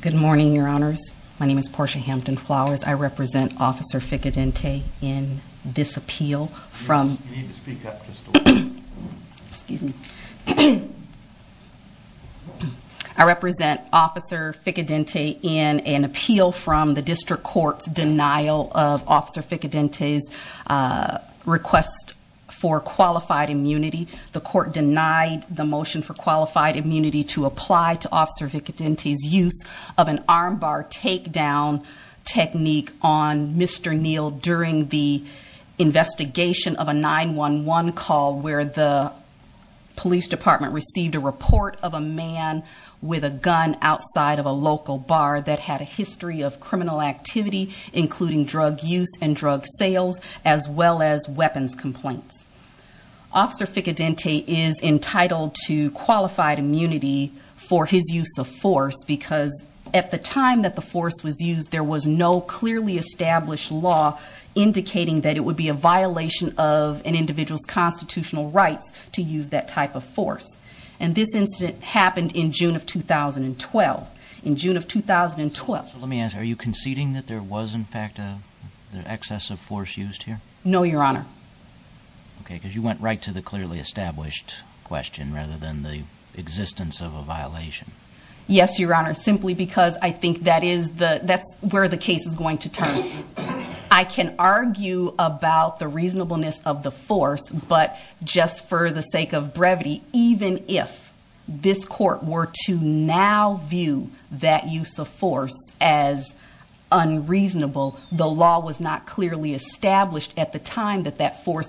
Good morning, Your Honors. My name is Portia Hampton Flowers. I represent Officer Ficcadenti in an appeal from the District Court's denial of Officer Ficcadenti's request for qualified immunity. The court denied the motion for qualified immunity to apply to Officer Ficcadenti's use of an arm bar takedown technique on Mr. Neal during the investigation of a 911 call where the police department received a report of a man with a gun outside of a local bar that had a history of criminal activity, including drug use and drug sales, as well as weapons complaints. Officer Ficcadenti is entitled to qualified immunity for his use of force because at the time that the force was used, there was no clearly established law indicating that it would be a violation of an individual's constitutional rights to use that type of force. And this incident happened in June of 2012. In June of 2012. So let me ask, are you conceding that there was in fact an excess of force used here? No, Your Honor. Okay, because you went right to the clearly established question rather than the existence of a violation. force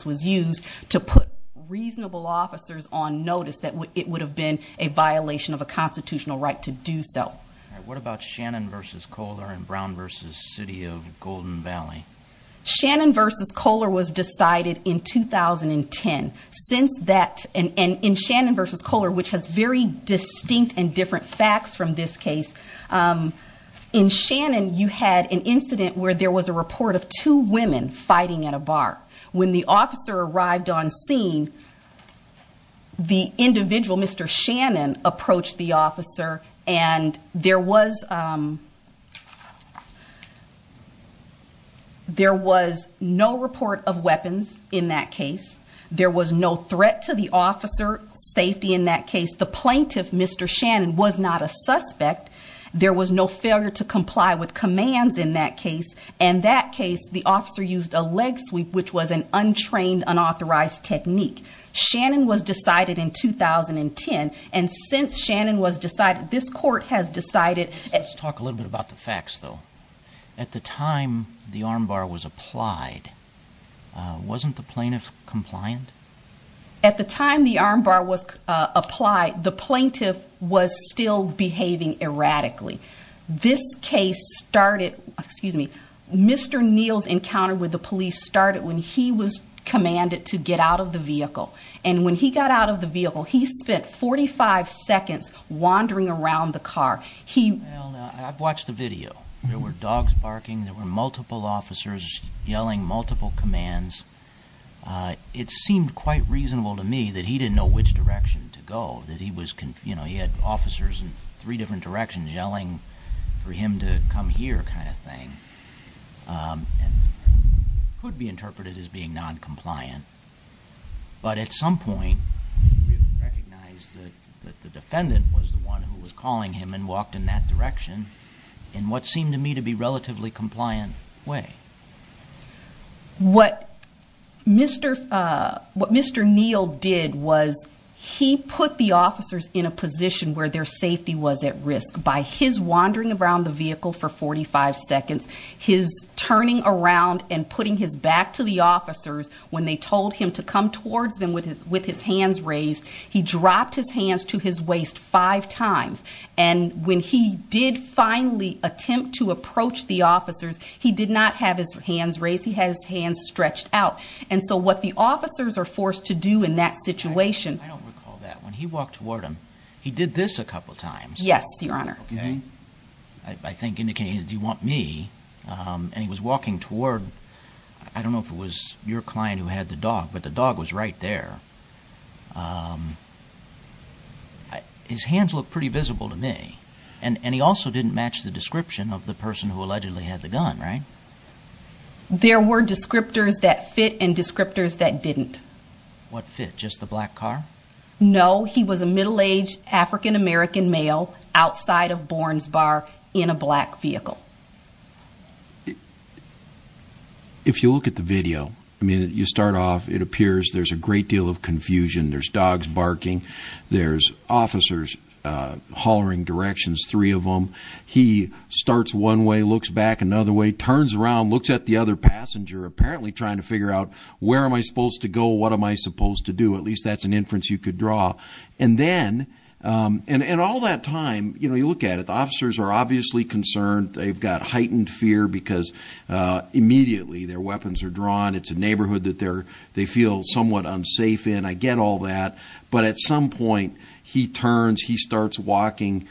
was used to put reasonable officers on notice that it would have been a violation of a constitutional right to do so. What about Shannon versus Kohler and Brown versus City of Golden Valley? Shannon versus Kohler was decided in 2010. Since that, and in Shannon versus Kohler, which has very distinct and different facts from this case, in Shannon you had an incident where there was a report of two women fighting at a bar. When the officer arrived on scene, the individual, Mr. Shannon, approached the officer and there was no report of weapons in that case. There was no threat to the officer's safety in that case. The plaintiff, Mr. Shannon, was not a suspect. There was no failure to comply with commands in that case. In that case, the officer used a leg sweep, which was an untrained, unauthorized technique. Shannon was decided in 2010, and since Shannon was decided, this court has decided... Let's talk a little bit about the facts, though. At the time the arm bar was applied, wasn't the plaintiff compliant? At the time the arm bar was applied, the plaintiff was still behaving erratically. This case started... Mr. Neal's encounter with the police started when he was commanded to get out of the vehicle. And when he got out of the vehicle, he spent 45 seconds wandering around the car. I've watched the video. There were dogs barking. There were multiple officers yelling multiple commands. It seemed quite reasonable to me that he didn't know which direction to go. He had officers in three different directions yelling for him to come here kind of thing. It could be interpreted as being noncompliant. But at some point, we recognized that the defendant was the one who was calling him and walked in that direction, in what seemed to me to be a relatively compliant way. What Mr. Neal did was he put the officers in a position where their safety was at risk. By his wandering around the vehicle for 45 seconds, his turning around and putting his back to the officers, when they told him to come towards them with his hands raised, he dropped his hands to his waist five times. And when he did finally attempt to approach the officers, he did not have his hands raised. He had his hands stretched out. And so what the officers are forced to do in that situation— I don't recall that. When he walked toward him, he did this a couple times. Yes, Your Honor. Okay. I think indicating, do you want me? And he was walking toward, I don't know if it was your client who had the dog, but the dog was right there. His hands looked pretty visible to me. And he also didn't match the description of the person who allegedly had the gun, right? There were descriptors that fit and descriptors that didn't. What fit? Just the black car? No. He was a middle-aged African-American male outside of Bourns Bar in a black vehicle. If you look at the video, I mean, you start off, it appears there's a great deal of confusion. There's dogs barking. There's officers hollering directions, three of them. He starts one way, looks back another way, turns around, looks at the other passenger, apparently trying to figure out where am I supposed to go, what am I supposed to do. At least that's an inference you could draw. And then—and all that time, you know, you look at it, the officers are obviously concerned. They've got heightened fear because immediately their weapons are drawn. It's a neighborhood that they feel somewhat unsafe in. I get all that. But at some point, he turns, he starts walking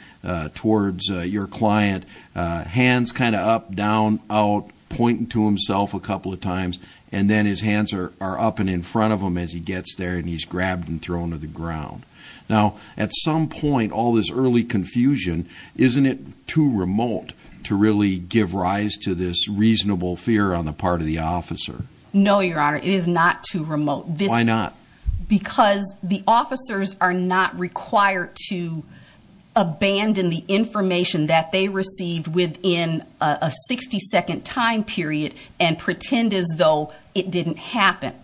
towards your client, hands kind of up, down, out, pointing to himself a couple of times, and then his hands are up and in front of him as he gets there, and he's grabbed and thrown to the ground. Now, at some point, all this early confusion, isn't it too remote to really give rise to this reasonable fear on the part of the officer? No, Your Honor, it is not too remote. Why not? Because the officers are not required to abandon the information that they received within a 60-second time period and pretend as though it didn't happen.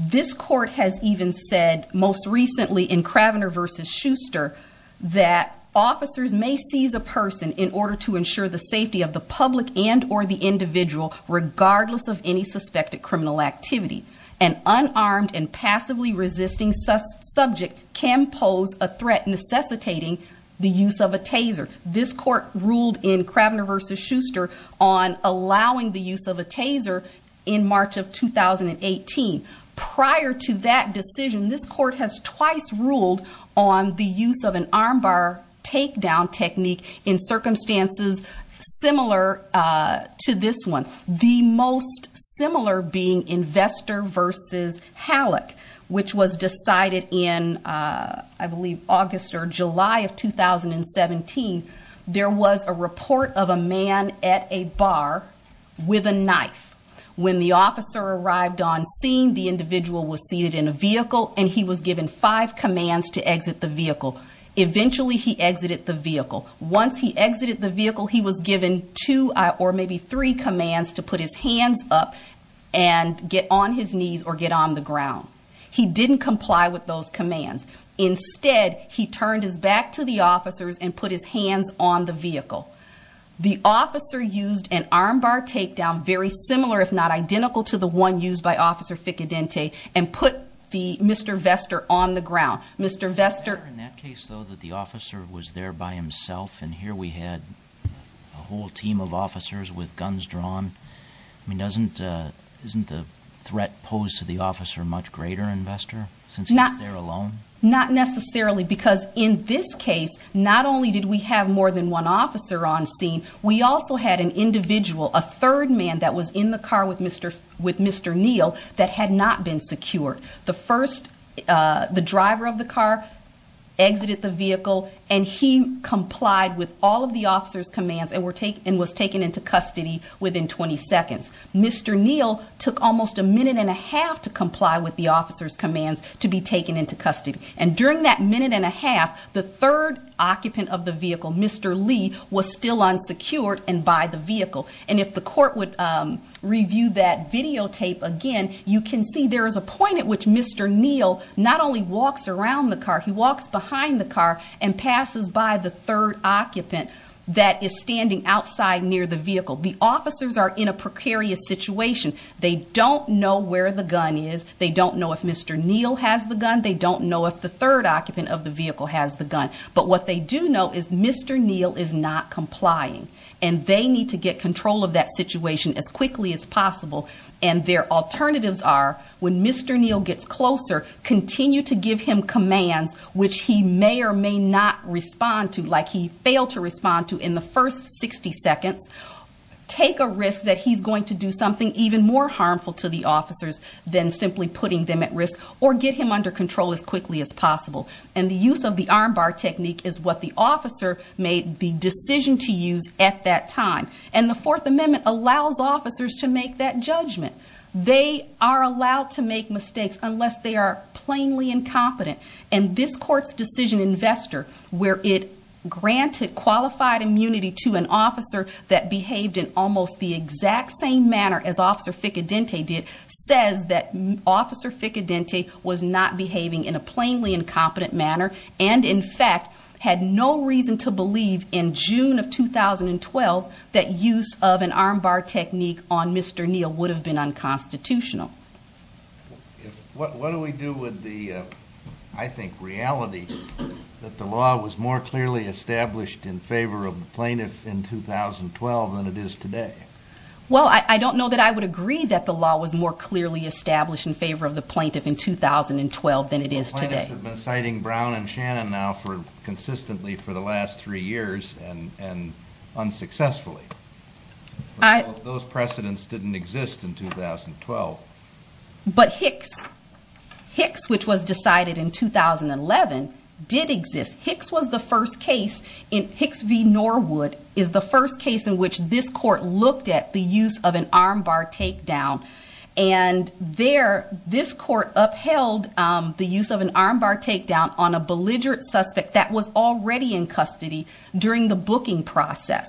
This court has even said, most recently in Kravener v. Schuster, that officers may seize a person in order to ensure the safety of the public and or the individual, regardless of any suspected criminal activity. An unarmed and passively resisting subject can pose a threat necessitating the use of a taser. This court ruled in Kravener v. Schuster on allowing the use of a taser in March of 2018. Prior to that decision, this court has twice ruled on the use of an armbar takedown technique in circumstances similar to this one. The most similar being Investor v. Halleck, which was decided in, I believe, August or July of 2017. There was a report of a man at a bar with a knife. When the officer arrived on scene, the individual was seated in a vehicle, and he was given five commands to exit the vehicle. Eventually, he exited the vehicle. Once he exited the vehicle, he was given two or maybe three commands to put his hands up and get on his knees or get on the ground. He didn't comply with those commands. Instead, he turned his back to the officers and put his hands on the vehicle. The officer used an armbar takedown, very similar if not identical to the one used by Officer Ficcadente, and put Mr. Vester on the ground. Is it fair in that case, though, that the officer was there by himself, and here we had a whole team of officers with guns drawn? I mean, isn't the threat posed to the officer much greater in Vester, since he's there alone? Not necessarily, because in this case, not only did we have more than one officer on scene, we also had an individual, a third man that was in the car with Mr. Neal that had not been secured. The driver of the car exited the vehicle, and he complied with all of the officer's commands and was taken into custody within 20 seconds. Mr. Neal took almost a minute and a half to comply with the officer's commands to be taken into custody. And during that minute and a half, the third occupant of the vehicle, Mr. Lee, was still unsecured and by the vehicle. And if the court would review that videotape again, you can see there is a point at which Mr. Neal not only walks around the car, he walks behind the car and passes by the third occupant that is standing outside near the vehicle. The officers are in a precarious situation. They don't know where the gun is. They don't know if Mr. Neal has the gun. They don't know if the third occupant of the vehicle has the gun. But what they do know is Mr. Neal is not complying, and they need to get control of that situation as quickly as possible. And their alternatives are, when Mr. Neal gets closer, continue to give him commands which he may or may not respond to, like he failed to respond to in the first 60 seconds, take a risk that he's going to do something even more harmful to the officers than simply putting them at risk, or get him under control as quickly as possible. And the use of the arm bar technique is what the officer made the decision to use at that time. And the Fourth Amendment allows officers to make that judgment. They are allowed to make mistakes unless they are plainly incompetent. And this court's decision investor, where it granted qualified immunity to an officer that behaved in almost the exact same manner as Officer Ficcadente did, says that Officer Ficcadente was not behaving in a plainly incompetent manner, and in fact had no reason to believe in June of 2012 that use of an arm bar technique on Mr. Neal would have been unconstitutional. What do we do with the, I think, reality that the law was more clearly established in favor of the plaintiff in 2012 than it is today? Well, I don't know that I would agree that the law was more clearly established in favor of the plaintiff in 2012 than it is today. Plaintiffs have been citing Brown and Shannon now consistently for the last three years and unsuccessfully. Those precedents didn't exist in 2012. But Hicks, which was decided in 2011, did exist. Hicks was the first case in Hicks v. Norwood is the first case in which this court looked at the use of an arm bar takedown. And there, this court upheld the use of an arm bar takedown on a belligerent suspect that was already in custody during the booking process.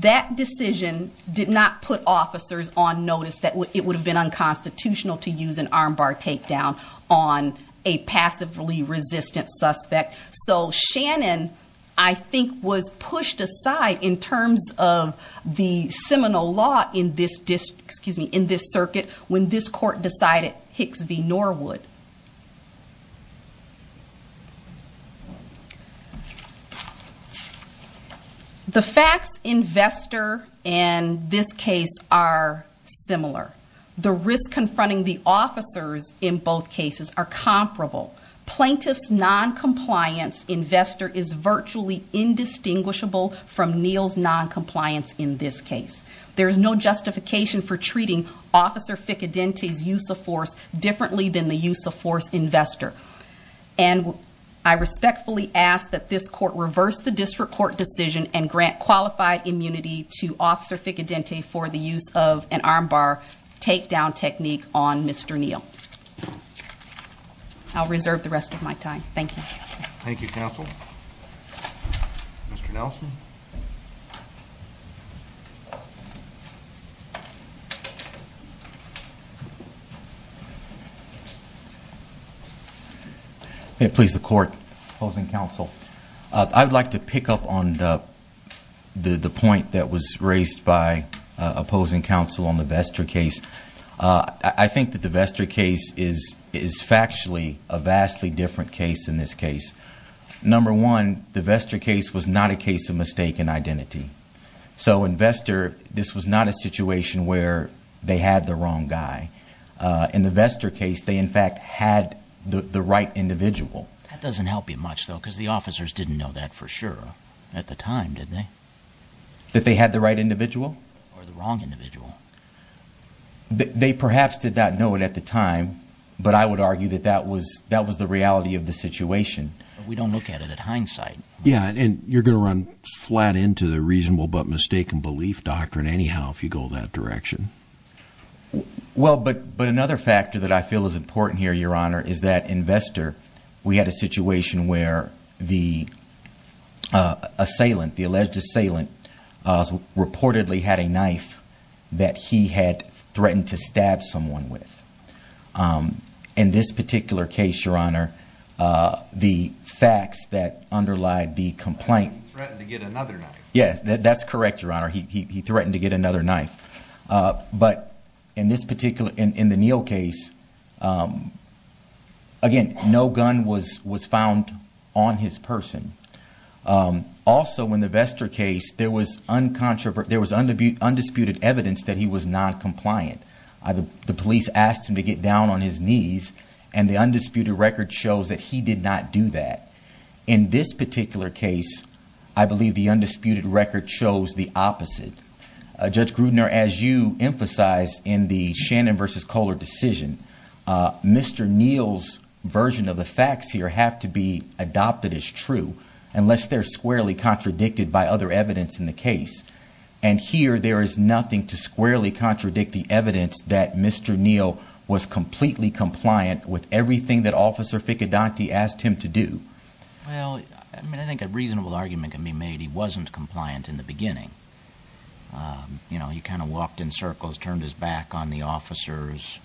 That decision did not put officers on notice that it would have been unconstitutional to use an arm bar takedown on a passively resistant suspect. So, Shannon, I think, was pushed aside in terms of the seminal law in this circuit when this court decided Hicks v. Norwood. The facts in Vester and this case are similar. The risk confronting the officers in both cases are comparable. Plaintiff's noncompliance in Vester is virtually indistinguishable from Neal's noncompliance in this case. There's no justification for treating Officer Ficcadente's use of force differently than the use of force in Vester. And I respectfully ask that this court reverse the district court decision and grant qualified immunity to Officer Ficcadente for the use of an arm bar takedown technique on Mr. Neal. I'll reserve the rest of my time. Thank you. Thank you, counsel. Mr. Nelson. May it please the court, opposing counsel, I would like to pick up on the point that was raised by opposing counsel on the Vester case. I think that the Vester case is factually a vastly different case than this case. Number one, the Vester case was not a case of mistaken identity. So in Vester, this was not a situation where they had the wrong guy. In the Vester case, they, in fact, had the right individual. That doesn't help you much, though, because the officers didn't know that for sure at the time, did they? That they had the right individual? Or the wrong individual? They perhaps did not know it at the time, but I would argue that that was the reality of the situation. But we don't look at it at hindsight. Yeah, and you're going to run flat into the reasonable but mistaken belief doctrine anyhow if you go that direction. Well, but another factor that I feel is important here, Your Honor, is that in Vester, we had a situation where the assailant, the alleged assailant, reportedly had a knife that he had threatened to stab someone with. In this particular case, Your Honor, the facts that underlie the complaint. Threatened to get another knife. Yes, that's correct, Your Honor. He threatened to get another knife. But in this particular, in the Neal case, again, no gun was found on his person. Also, in the Vester case, there was undisputed evidence that he was noncompliant. The police asked him to get down on his knees, and the undisputed record shows that he did not do that. In this particular case, I believe the undisputed record shows the opposite. Judge Grudner, as you emphasized in the Shannon versus Kohler decision, Mr. Neal's version of the facts here have to be adopted as true. Unless they're squarely contradicted by other evidence in the case. And here, there is nothing to squarely contradict the evidence that Mr. Neal was completely compliant with everything that Officer Ficcadenti asked him to do. Well, I mean, I think a reasonable argument can be made. He wasn't compliant in the beginning. You know, he kind of walked in circles, turned his back on the officers.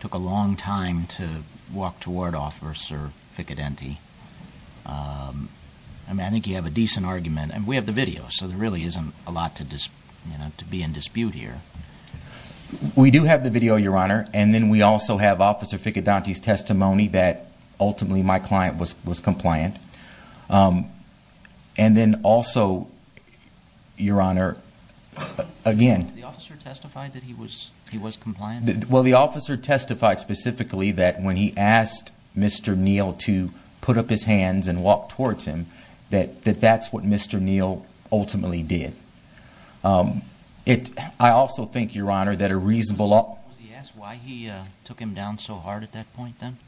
Took a long time to walk toward Officer Ficcadenti. I mean, I think you have a decent argument. And we have the video, so there really isn't a lot to be in dispute here. We do have the video, Your Honor. And then we also have Officer Ficcadenti's testimony that ultimately my client was compliant. And then also, Your Honor, again. The officer testified that he was compliant? Well, the officer testified specifically that when he asked Mr. Neal to put up his hands and walk towards him, that that's what Mr. Neal ultimately did. I also think, Your Honor, that a reasonable... Was he asked why he took him down so hard at that point, then?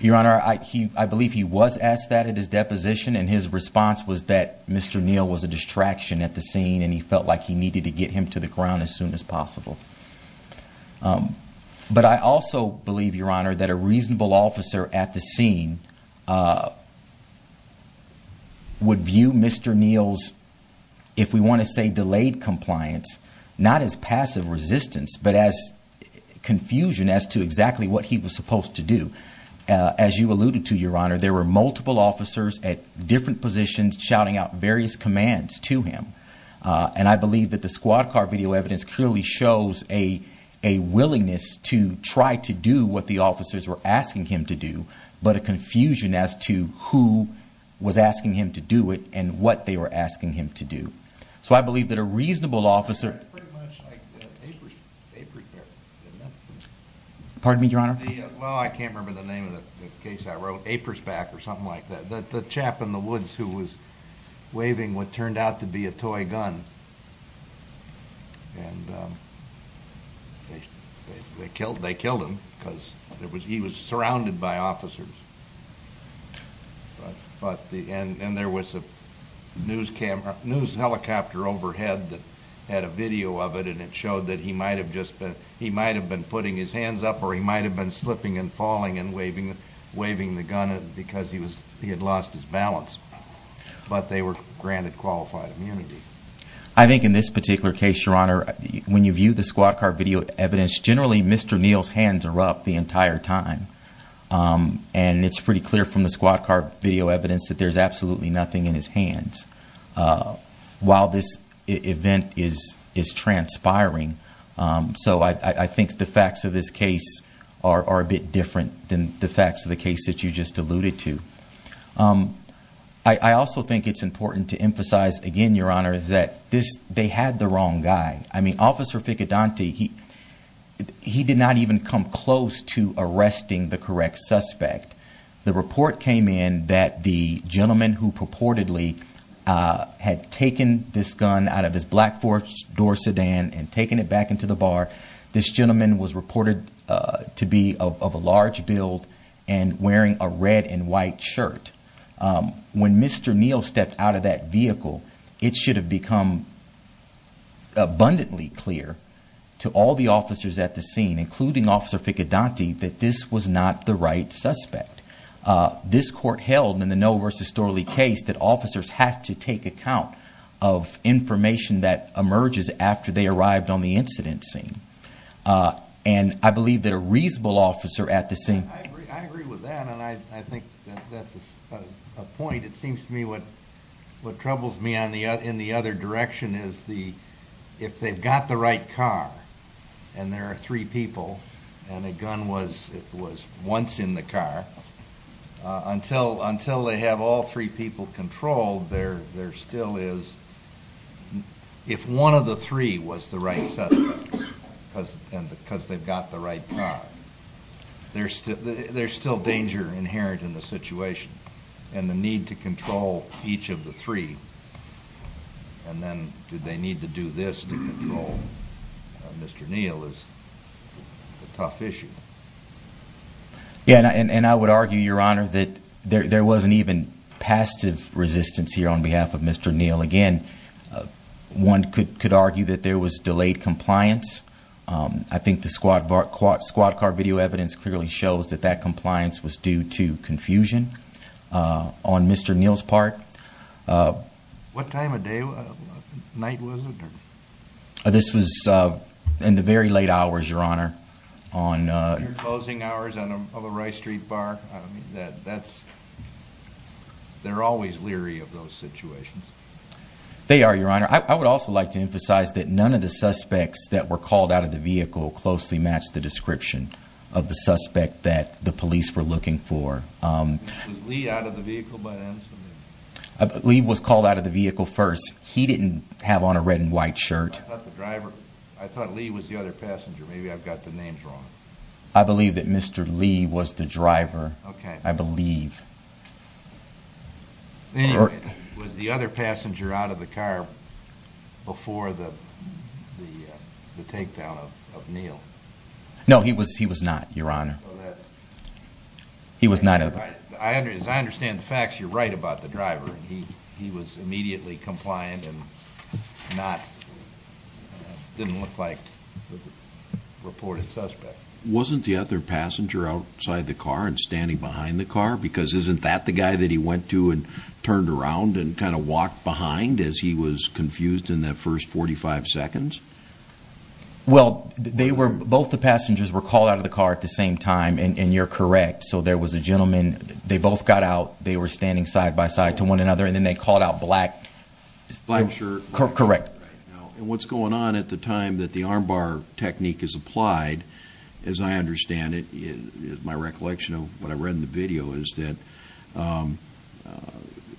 Your Honor, I believe he was asked that at his deposition, and his response was that Mr. Neal was a distraction at the scene, and he felt like he needed to get him to the ground as soon as possible. But I also believe, Your Honor, that a reasonable officer at the scene would view Mr. Neal's, if we want to say delayed compliance, not as passive resistance, but as confusion as to exactly what he was supposed to do. As you alluded to, Your Honor, there were multiple officers at different positions shouting out various commands to him. And I believe that the squad car video evidence clearly shows a willingness to try to do what the officers were asking him to do, but a confusion as to who was asking him to do it and what they were asking him to do. So I believe that a reasonable officer... Pardon me, Your Honor? Well, I can't remember the name of the case I wrote, Apersback or something like that. The chap in the woods who was waving what turned out to be a toy gun, and they killed him because he was surrounded by officers. And there was a news helicopter overhead that had a video of it, and it showed that he might have been putting his hands up or he might have been slipping and falling and waving the gun because he had lost his balance. But they were granted qualified immunity. I think in this particular case, Your Honor, when you view the squad car video evidence, generally Mr. Neal's hands are up the entire time. And it's pretty clear from the squad car video evidence that there's absolutely nothing in his hands while this event is transpiring. So I think the facts of this case are a bit different than the facts of the case that you just alluded to. I also think it's important to emphasize again, Your Honor, that they had the wrong guy. I mean, Officer Ficodanti, he did not even come close to arresting the correct suspect. The report came in that the gentleman who purportedly had taken this gun out of his black four-door sedan and taken it back into the bar, this gentleman was reported to be of a large build and wearing a red and white shirt. When Mr. Neal stepped out of that vehicle, it should have become abundantly clear to all the officers at the scene, including Officer Ficodanti, that this was not the right suspect. This court held in the Noe v. Storley case that officers had to take account of information that emerges after they arrived on the incident scene. And I believe that a reasonable officer at the scene... A point, it seems to me, what troubles me in the other direction is if they've got the right car, and there are three people, and a gun was once in the car, until they have all three people controlled, there still is... If one of the three was the right suspect, because they've got the right car, there's still danger inherent in the situation. And the need to control each of the three, and then do they need to do this to control Mr. Neal, is a tough issue. Yeah, and I would argue, Your Honor, that there wasn't even passive resistance here on behalf of Mr. Neal. Again, one could argue that there was delayed compliance. I think the squad car video evidence clearly shows that that compliance was due to confusion on Mr. Neal's part. What time of day, night was it? This was in the very late hours, Your Honor. Closing hours of a Wright Street bar? They're always leery of those situations. They are, Your Honor. I would also like to emphasize that none of the suspects that were called out of the vehicle closely matched the description of the suspect that the police were looking for. Was Lee out of the vehicle by then? Lee was called out of the vehicle first. He didn't have on a red and white shirt. I thought Lee was the other passenger. Maybe I've got the names wrong. I believe that Mr. Lee was the driver. I believe. Anyway, was the other passenger out of the car before the takedown of Neal? No, he was not, Your Honor. As I understand the facts, you're right about the driver. He was immediately compliant and didn't look like a reported suspect. Wasn't the other passenger outside the car and standing behind the car? Because isn't that the guy that he went to and turned around and kind of walked behind as he was confused in that first 45 seconds? Well, both the passengers were called out of the car at the same time, and you're correct. So there was a gentleman. They both got out. They were standing side by side to one another, and then they called out black. Black shirt. Correct. And what's going on at the time that the armbar technique is applied, as I understand it, is my recollection of what I read in the video, is that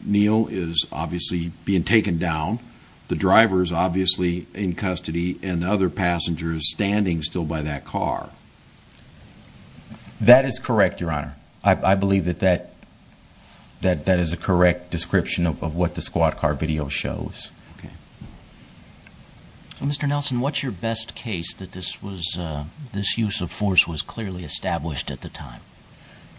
Neal is obviously being taken down. The driver is obviously in custody, and the other passenger is standing still by that car. That is correct, Your Honor. I believe that that is a correct description of what the squad car video shows. Okay. So, Mr. Nelson, what's your best case that this use of force was clearly established at the time?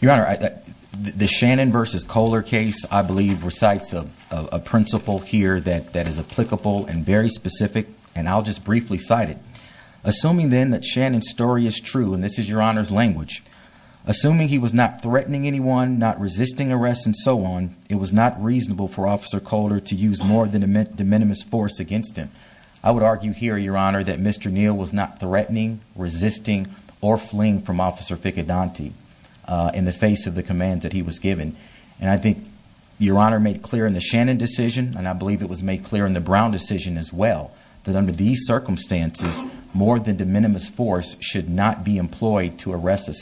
Your Honor, the Shannon versus Kohler case, I believe, recites a principle here that is applicable and very specific, and I'll just briefly cite it. Assuming then that Shannon's story is true, and this is Your Honor's language, assuming he was not threatening anyone, not resisting arrest, and so on, it was not reasonable for Officer Kohler to use more than de minimis force against him. I would argue here, Your Honor, that Mr. Neal was not threatening, resisting, or fleeing from Officer Ficcadanti in the face of the commands that he was given. And I think Your Honor made clear in the Shannon decision, and I believe it was made clear in the Brown decision as well, that under these circumstances, more than de minimis force should not be employed to arrest a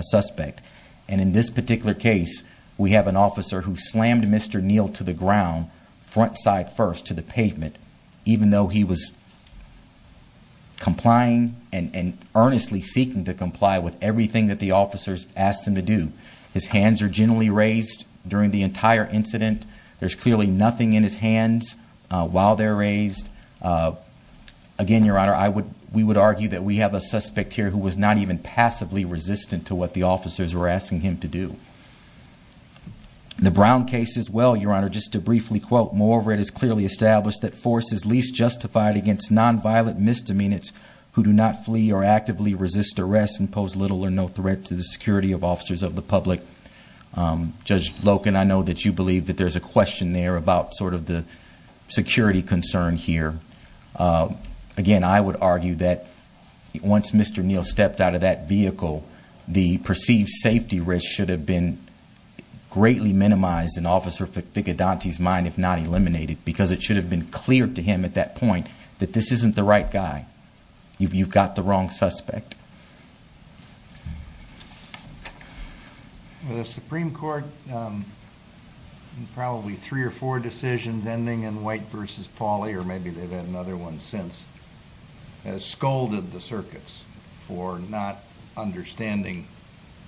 suspect. And in this particular case, we have an officer who slammed Mr. Neal to the ground, front side first, to the pavement, even though he was complying and earnestly seeking to comply with everything that the officers asked him to do. His hands are gently raised during the entire incident. There's clearly nothing in his hands while they're raised. Again, Your Honor, we would argue that we have a suspect here who was not even passively resistant to what the officers were asking him to do. In the Brown case as well, Your Honor, just to briefly quote, moreover, it is clearly established that force is least justified against non-violent misdemeanors who do not flee or actively resist arrest and pose little or no threat to the security of officers of the public. Judge Loken, I know that you believe that there's a question there about sort of the security concern here. Again, I would argue that once Mr. Neal stepped out of that vehicle, the perceived safety risk should have been greatly minimized in Officer Ficcadanti's mind, if not eliminated, because it should have been clear to him at that point that this isn't the right guy. You've got the wrong suspect. The Supreme Court in probably three or four decisions ending in White v. Pauley, or maybe they've had another one since, has scolded the circuits for not understanding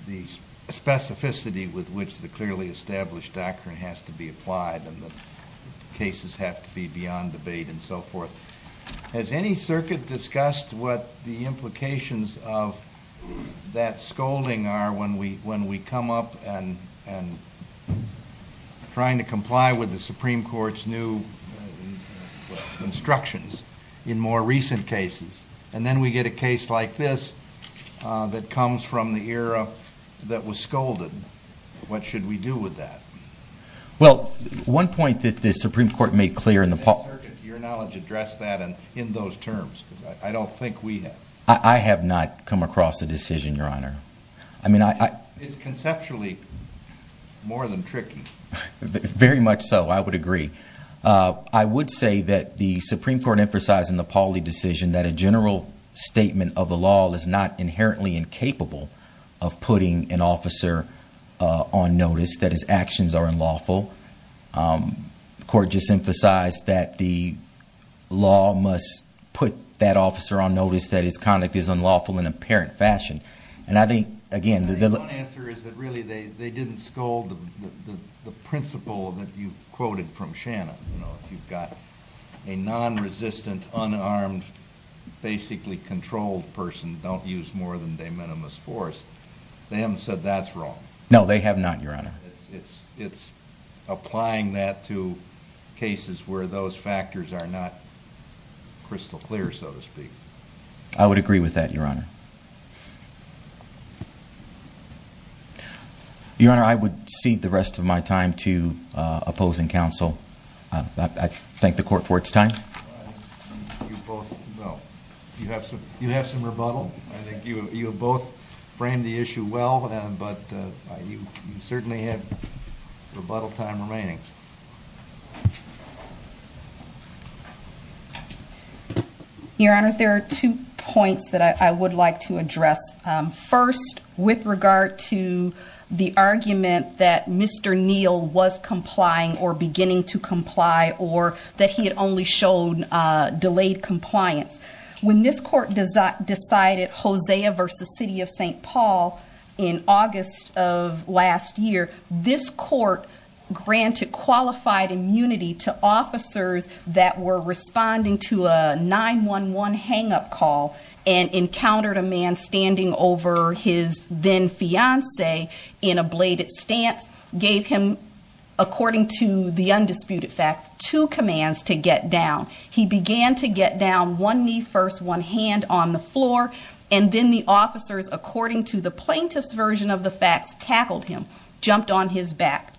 the specificity with which the clearly established doctrine has to be applied and the cases have to be beyond debate and so forth. Has any circuit discussed what the implications of that scolding are when we come up and are trying to comply with the Supreme Court's new instructions in more recent cases? And then we get a case like this that comes from the era that was scolded. What should we do with that? Well, one point that the Supreme Court made clear in the – Has any circuit to your knowledge addressed that in those terms? Because I don't think we have. I have not come across a decision, Your Honor. I mean, I – It's conceptually more than tricky. Very much so, I would agree. I would say that the Supreme Court emphasized in the Pauley decision that a general statement of the law is not inherently incapable of putting an officer on notice that his actions are unlawful. The Court just emphasized that the law must put that officer on notice that his conduct is unlawful in an apparent fashion. And I think, again, the – The people that you quoted from Shannon, you know, if you've got a non-resistant, unarmed, basically controlled person don't use more than de minimis force, they haven't said that's wrong. No, they have not, Your Honor. It's applying that to cases where those factors are not crystal clear, so to speak. I would agree with that, Your Honor. Your Honor, I would cede the rest of my time to opposing counsel. I thank the Court for its time. You have some rebuttal. I think you have both framed the issue well, but you certainly have rebuttal time remaining. Your Honor, there are two points that I would like to address. First, with regard to the argument that Mr. Neal was complying or beginning to comply or that he had only shown delayed compliance. When this Court decided Hosea v. City of St. Paul in August of last year, this Court granted qualified immunity to officers that were responding to a 911 hang-up call and encountered a man standing over his then-fiancee in a bladed stance, gave him, according to the undisputed facts, two commands to get down. He began to get down, one knee first, one hand on the floor, and then the officers, according to the plaintiff's version of the facts, tackled him, jumped on his back.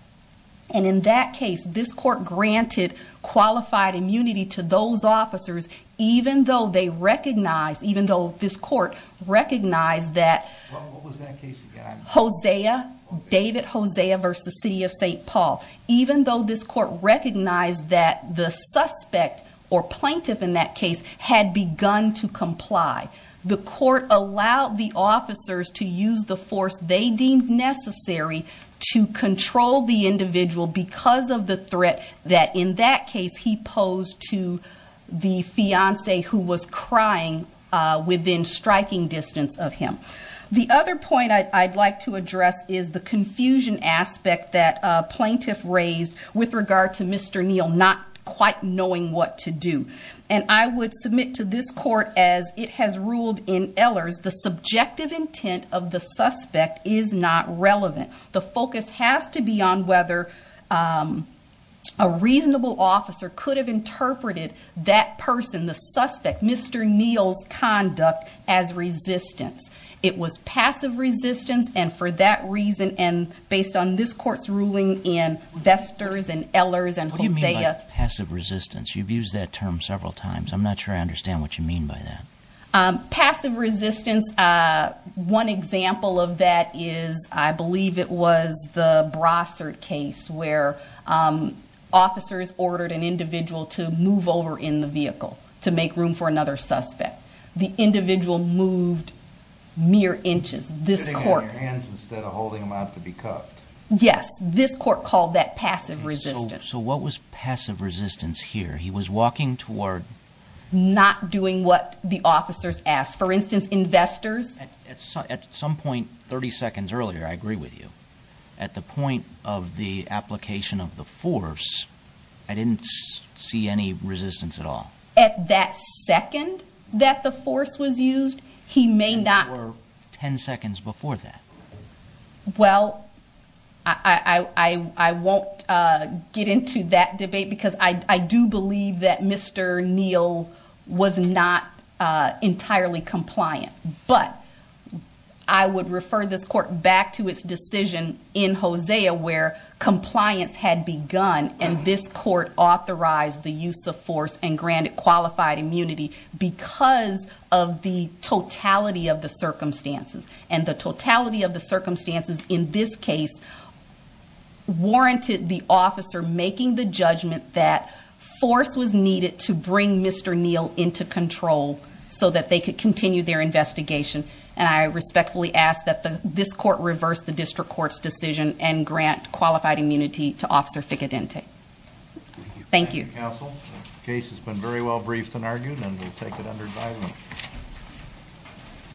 And in that case, this Court granted qualified immunity to those officers even though this Court recognized that Hosea, David Hosea v. City of St. Paul, even though this Court recognized that the suspect or plaintiff in that case had begun to comply. The Court allowed the officers to use the force they deemed necessary to control the individual because of the threat that, in that case, he posed to the fiancée who was crying within striking distance of him. The other point I'd like to address is the confusion aspect that a plaintiff raised with regard to Mr. Neal not quite knowing what to do. And I would submit to this Court, as it has ruled in Ehlers, the subjective intent of the suspect is not relevant. The focus has to be on whether a reasonable officer could have interpreted that person, the suspect, Mr. Neal's conduct, as resistance. It was passive resistance, and for that reason, and based on this Court's ruling in Vesters and Ehlers and Hosea— I'm not sure I understand what you mean by that. Passive resistance, one example of that is, I believe it was the Brossard case, where officers ordered an individual to move over in the vehicle to make room for another suspect. The individual moved mere inches. Sitting on your hands instead of holding them out to be cuffed. Yes, this Court called that passive resistance. So what was passive resistance here? He was walking toward— Not doing what the officers asked. For instance, in Vesters— At some point 30 seconds earlier, I agree with you. At the point of the application of the force, I didn't see any resistance at all. At that second that the force was used, he may not— Or 10 seconds before that. Well, I won't get into that debate, because I do believe that Mr. Neal was not entirely compliant. But I would refer this Court back to its decision in Hosea, where compliance had begun, and this Court authorized the use of force and granted qualified immunity because of the totality of the circumstances. And the totality of the circumstances in this case warranted the officer making the judgment that force was needed to bring Mr. Neal into control so that they could continue their investigation. And I respectfully ask that this Court reverse the District Court's decision and grant qualified immunity to Officer Ficcadente. Thank you. Thank you, Counsel. The case has been very well briefed and argued, and we'll take it under dialogue.